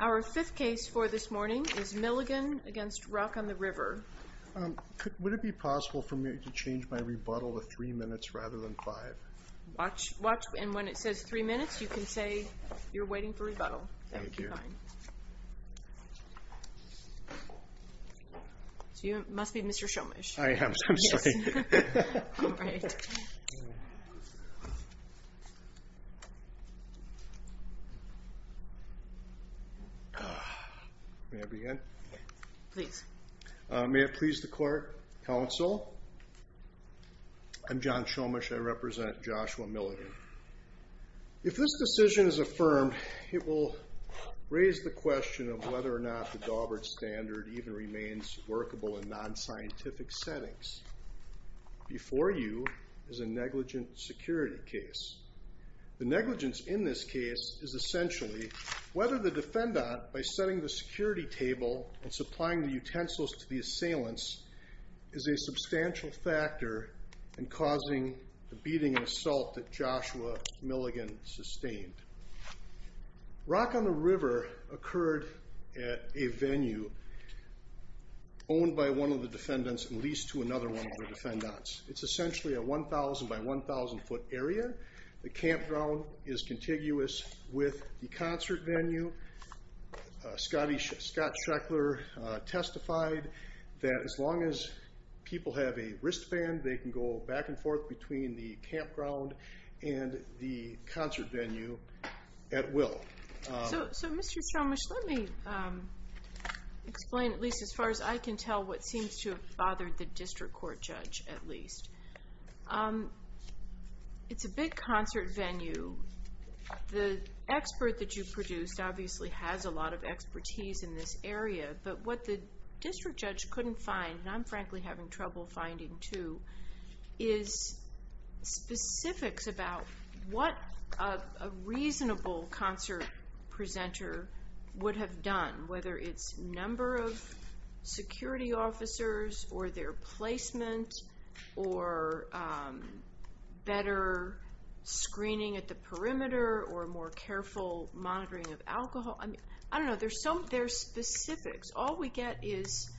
Our fifth case for this morning is Milligan v. Rock on the River. Would it be possible for me to change my rebuttal to three minutes rather than five? Watch. And when it says three minutes, you can say you're waiting for rebuttal. Thank you. That would be fine. So you must be Mr. Shomish. I am. I'm sorry. All right. May I begin? Please. May it please the court, counsel. I'm John Shomish. I represent Joshua Milligan. If this decision is affirmed, it will raise the question of whether or not the Daubert standard even remains workable in non-scientific settings. Before you is a negligent security case. The negligence in this case is essentially whether the defendant, by setting the security table and supplying the utensils to the assailants, is a substantial factor in causing the beating and assault that Joshua Milligan sustained. Rock on the River occurred at a venue owned by one of the defendants and leased to another one of the defendants. It's essentially a 1,000-by-1,000-foot area. The campground is contiguous with the concert venue. Scott Sheckler testified that as long as people have a wristband, they can go back and forth between the campground and the concert venue at will. So, Mr. Shomish, let me explain at least as far as I can tell what seems to have bothered the district court judge at least. It's a big concert venue. The expert that you produced obviously has a lot of expertise in this area, but what the district judge couldn't find, and I'm frankly having trouble finding too, is specifics about what a reasonable concert presenter would have done, whether it's number of security officers or their placement or better screening at the perimeter or more careful monitoring of alcohol. I don't know. There's specifics. All we get is,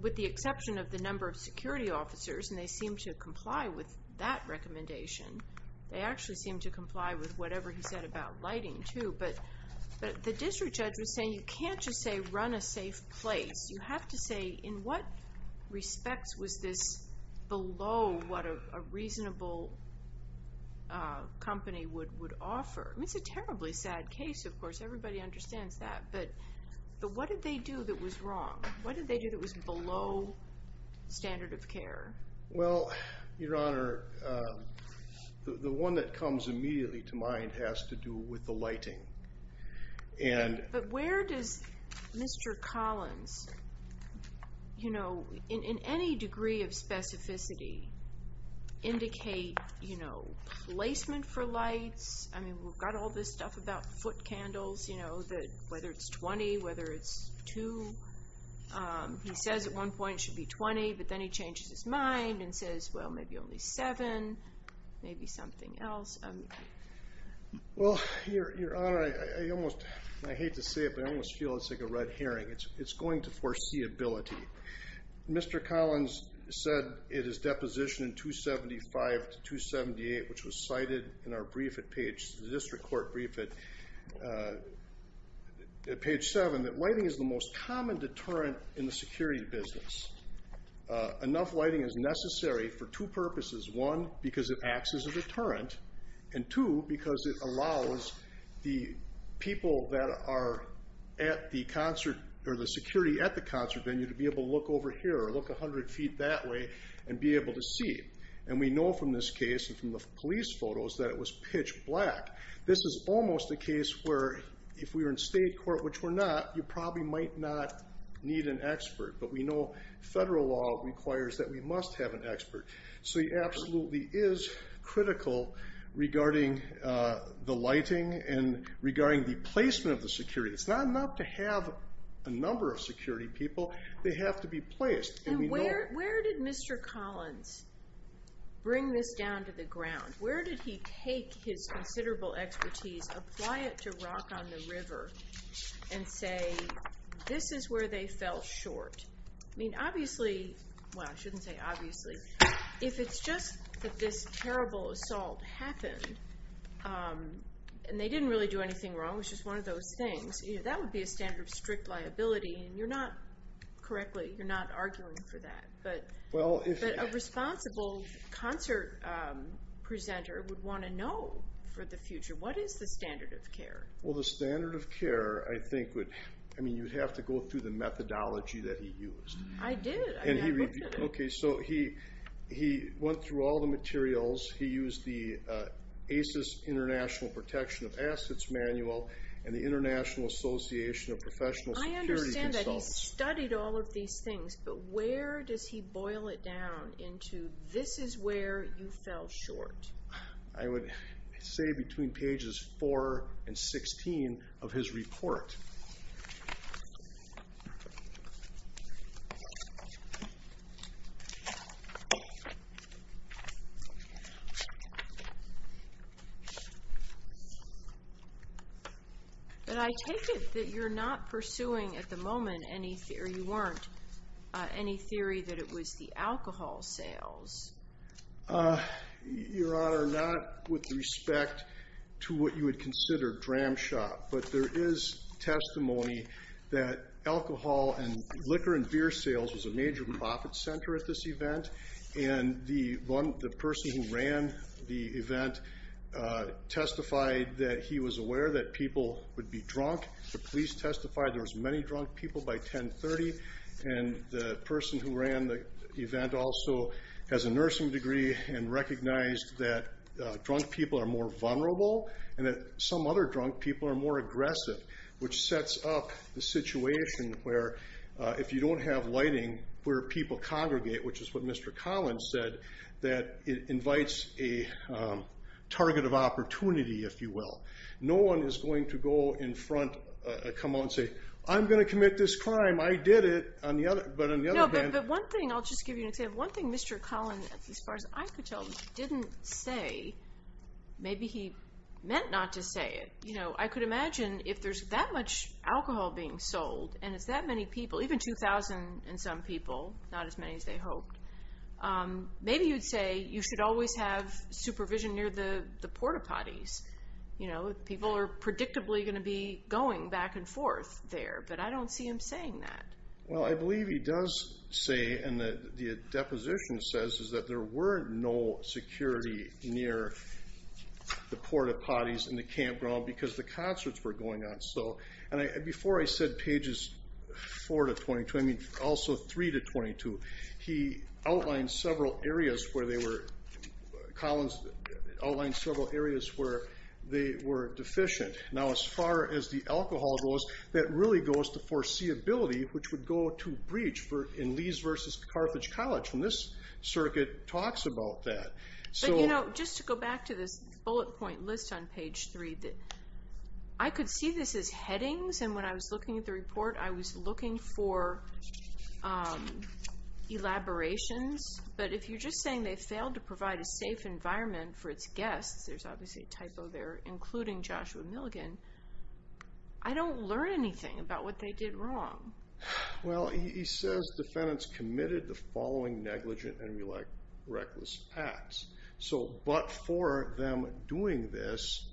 with the exception of the number of security officers, and they seem to comply with that recommendation. They actually seem to comply with whatever he said about lighting too, but the district judge was saying you can't just say run a safe place. You have to say in what respects was this below what a reasonable company would offer. It's a terribly sad case, of course. Everybody understands that, but what did they do that was wrong? What did they do that was below standard of care? Well, Your Honor, the one that comes immediately to mind has to do with the lighting. But where does Mr. Collins, in any degree of specificity, indicate placement for lights? I mean, we've got all this stuff about foot candles, whether it's 20, whether it's two. He says at one point it should be 20, but then he changes his mind and says, well, maybe only seven, maybe something else. Well, Your Honor, I hate to say it, but I almost feel it's like a red herring. It's going to foreseeability. Mr. Collins said in his deposition in 275 to 278, which was cited in our district court brief at page seven, that lighting is the most common deterrent in the security business. Enough lighting is necessary for two purposes, one, because it acts as a deterrent, and two, because it allows the people that are at the concert venue to be able to look over here or look 100 feet that way and be able to see. And we know from this case and from the police photos that it was pitch black. This is almost a case where if we were in state court, which we're not, you probably might not need an expert, but we know federal law requires that we must have an expert. So he absolutely is critical regarding the lighting and regarding the placement of the security. It's not enough to have a number of security people. They have to be placed. And where did Mr. Collins bring this down to the ground? Where did he take his considerable expertise, apply it to rock on the river, and say this is where they fell short? I mean, obviously, well, I shouldn't say obviously. If it's just that this terrible assault happened and they didn't really do anything wrong, which is one of those things, that would be a standard of strict liability, and you're not correctly, you're not arguing for that. But a responsible concert presenter would want to know for the future, what is the standard of care? Well, the standard of care, I mean, you'd have to go through the methodology that he used. I did. I mean, I looked at it. Okay, so he went through all the materials. He used the ACES International Protection of Assets Manual and the International Association of Professional Security Consultants. I understand that. He studied all of these things. But where does he boil it down into this is where you fell short? I would say between pages 4 and 16 of his report. But I take it that you're not pursuing at the moment any theory, or you weren't, any theory that it was the alcohol sales. Your Honor, not with respect to what you would consider dram shop, but there is testimony that alcohol and liquor and beer sales was a major profit center at this event, and the person who ran the event testified that he was aware that people would be drunk. The police testified there was many drunk people by 10.30, and the person who ran the event also has a nursing degree and recognized that drunk people are more vulnerable and that some other drunk people are more aggressive, which sets up the situation where if you don't have lighting, where people congregate, which is what Mr. Collins said, that it invites a target of opportunity, if you will. No one is going to go in front, come out and say, I'm going to commit this crime. I did it, but on the other hand... No, but one thing, I'll just give you an example. One thing Mr. Collins, as far as I could tell, didn't say, maybe he meant not to say it. I could imagine if there's that much alcohol being sold, and it's that many people, even 2,000 and some people, not as many as they hoped, maybe you'd say you should always have supervision near the porta-potties. People are predictably going to be going back and forth there, but I don't see him saying that. Well, I believe he does say, and the deposition says, is that there were no security near the porta-potties in the campground because the concerts were going on. Before I said pages 4 to 22, I mean also 3 to 22, he outlined several areas where they were, Collins outlined several areas where they were deficient. Now, as far as the alcohol goes, that really goes to foreseeability, which would go to breach in Lees v. Carthage College, and this circuit talks about that. But, you know, just to go back to this bullet point list on page 3, I could see this as headings, and when I was looking at the report, I was looking for elaborations, but if you're just saying they failed to provide a safe environment for its guests, there's obviously a typo there, including Joshua Milligan, I don't learn anything about what they did wrong. Well, he says defendants committed the following negligent and reckless acts, but for them doing this,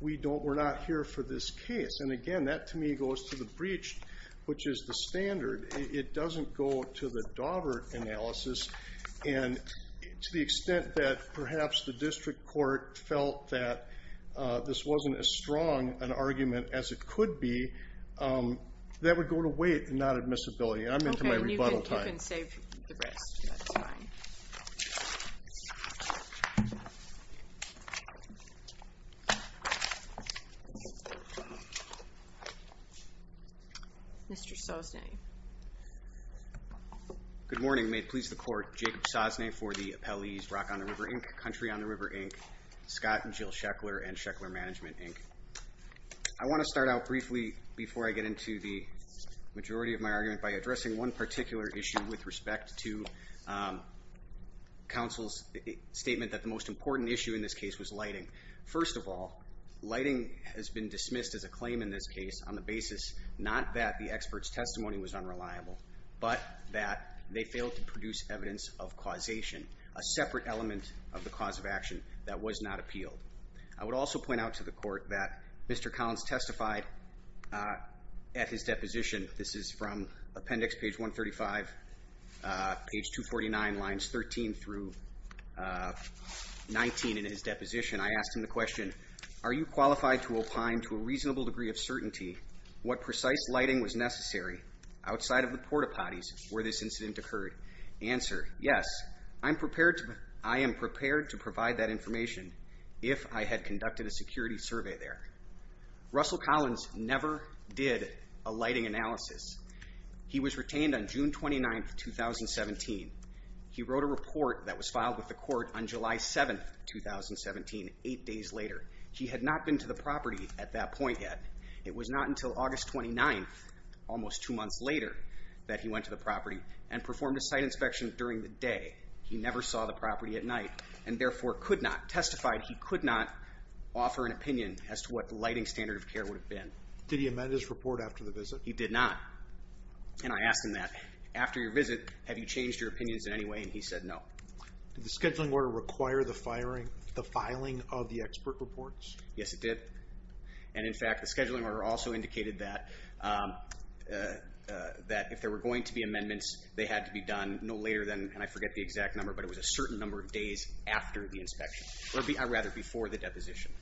we're not here for this case. And, again, that to me goes to the breach, which is the standard. It doesn't go to the Daubert analysis, and to the extent that perhaps the district court felt that this wasn't as strong an argument as it could be, that would go to weight and not admissibility. I'm into my rebuttal time. You can save the rest. Mr. Sosnay. Good morning. May it please the court, Jacob Sosnay for the appellees Rock on the River, Inc., Country on the River, Inc., Scott and Jill Sheckler, and Sheckler Management, Inc. I want to start out briefly before I get into the majority of my argument by addressing one particular issue with respect to counsel's statement that the most important issue in this case was lighting. First of all, lighting has been dismissed as a claim in this case on the basis not that the expert's testimony was unreliable, but that they failed to produce evidence of causation, a separate element of the cause of action that was not appealed. I would also point out to the court that Mr. Collins testified at his deposition, this is from appendix page 135, page 249, lines 13 through 19 in his deposition. I asked him the question, are you qualified to opine to a reasonable degree of certainty what precise lighting was necessary outside of the porta potties where this incident occurred? Answer, yes, I am prepared to provide that information if I had conducted a security survey there. Russell Collins never did a lighting analysis. He was retained on June 29, 2017. He wrote a report that was filed with the court on July 7, 2017, eight days later. He had not been to the property at that point yet. It was not until August 29, almost two months later, that he went to the property and performed a site inspection during the day. He never saw the property at night and therefore could not, testified he could not, offer an opinion as to what the lighting standard of care would have been. Did he amend his report after the visit? He did not. And I asked him that. After your visit, have you changed your opinions in any way? And he said no. Did the scheduling order require the filing of the expert reports? Yes, it did. And in fact, the scheduling order also indicated that if there were going to be amendments, they had to be done no later than, and I forget the exact number, but it was a certain number of days after the inspection, or rather before the deposition.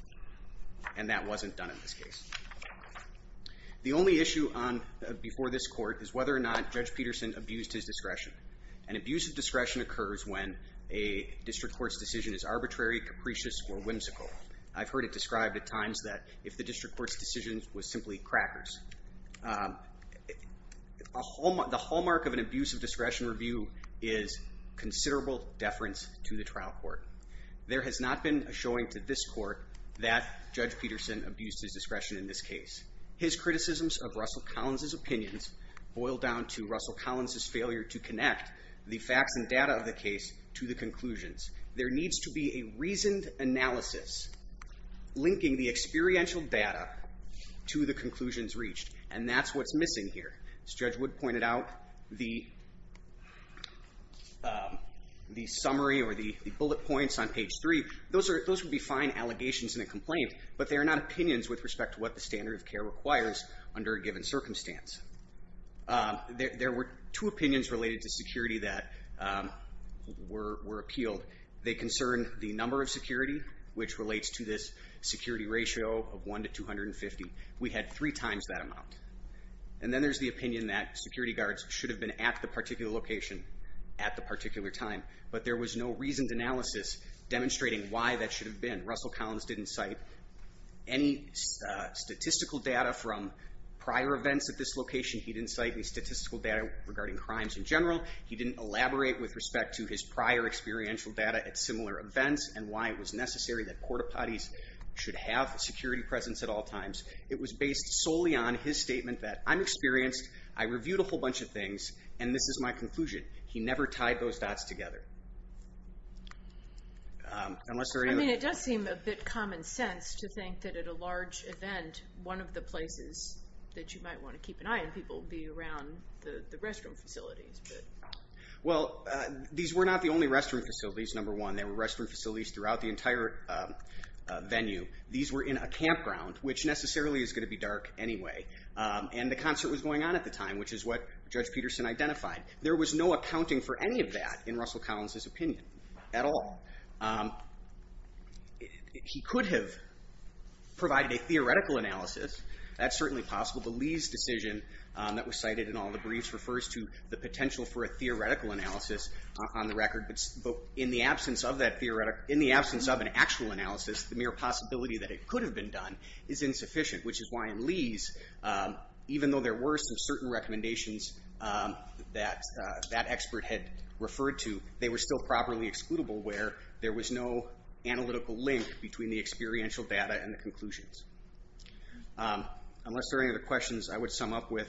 And that wasn't done in this case. The only issue before this court is whether or not Judge Peterson abused his discretion. An abuse of discretion occurs when a district court's decision is arbitrary, capricious, or whimsical. I've heard it described at times that if the district court's decision was simply crackers. The hallmark of an abuse of discretion review is considerable deference to the trial court. There has not been a showing to this court that Judge Peterson abused his discretion in this case. His criticisms of Russell Collins' opinions boil down to Russell Collins' failure to connect the facts and data of the case to the conclusions. There needs to be a reasoned analysis linking the experiential data to the conclusions reached, and that's what's missing here. As Judge Wood pointed out, the summary or the bullet points on page 3, those would be fine allegations in a complaint, but they are not opinions with respect to what the standard of care requires under a given circumstance. There were two opinions related to security that were appealed. They concern the number of security, which relates to this security ratio of 1 to 250. We had three times that amount. And then there's the opinion that security guards should have been at the particular location at the particular time, but there was no reasoned analysis demonstrating why that should have been. Russell Collins didn't cite any statistical data from prior events at this location. He didn't cite any statistical data regarding crimes in general. He didn't elaborate with respect to his prior experiential data at similar events and why it was necessary that court of parties should have a security presence at all times. It was based solely on his statement that I'm experienced, I reviewed a whole bunch of things, and this is my conclusion. He never tied those dots together. I mean, it does seem a bit common sense to think that at a large event, one of the places that you might want to keep an eye on people would be around the restroom facilities. Well, these were not the only restroom facilities, number one. There were restroom facilities throughout the entire venue. These were in a campground, which necessarily is going to be dark anyway. And the concert was going on at the time, which is what Judge Peterson identified. There was no accounting for any of that in Russell Collins' opinion at all. He could have provided a theoretical analysis. That's certainly possible. The Lees decision that was cited in all the briefs refers to the potential for a theoretical analysis on the record. But in the absence of an actual analysis, the mere possibility that it could have been done is insufficient, which is why in Lees, even though there were some certain recommendations that that expert had referred to, they were still properly excludable where there was no analytical link between the experiential data and the conclusions. Unless there are any other questions I would sum up with,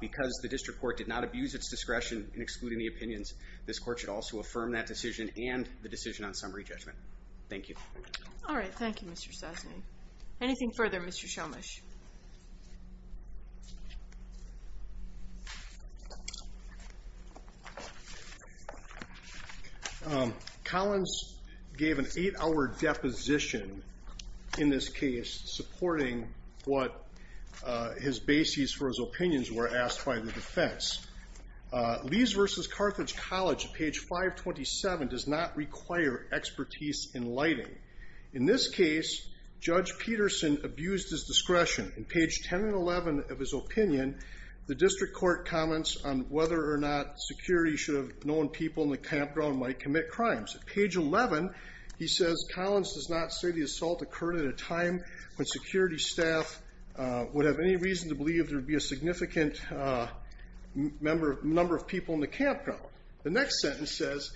because the district court did not abuse its discretion in excluding the opinions, this court should also affirm that decision and the decision on summary judgment. Thank you. Thank you, Mr. Sesney. Anything further, Mr. Shelmush? Collins gave an eight-hour deposition in this case, supporting what his bases for his opinions were asked by the defense. Lees v. Carthage College, page 527, does not require expertise in lighting. In this case, Judge Peterson abused his discretion. In page 10 and 11 of his opinion, the district court comments on whether or not security should have known people in the campground might commit crimes. Page 11, he says, Collins does not say the assault occurred at a time when security staff would have any reason to believe there would be a significant number of people in the campground. The next sentence says,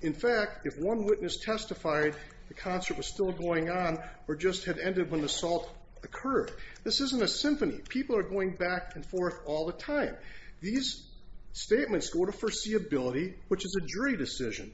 in fact, if one witness testified the concert was still going on or just had ended when the assault occurred. This isn't a symphony. People are going back and forth all the time. These statements go to foreseeability, which is a jury decision.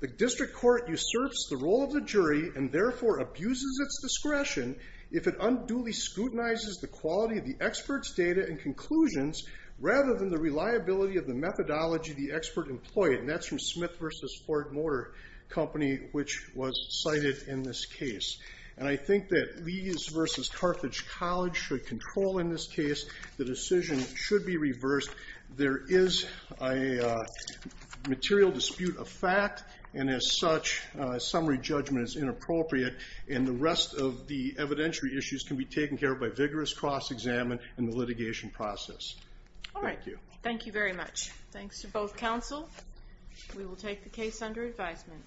The district court usurps the role of the jury and therefore abuses its discretion if it unduly scrutinizes the quality of the expert's data and conclusions rather than the reliability of the methodology the expert employed. And that's from Smith v. Ford Motor Company, which was cited in this case. And I think that Lees v. Carthage College should control in this case. The decision should be reversed. There is a material dispute of fact, and as such, summary judgment is inappropriate, and the rest of the evidentiary issues can be taken care of by vigorous cross-examination and the litigation process. All right. Thank you. Thank you very much. Thanks to both counsel. We will take the case under advisement.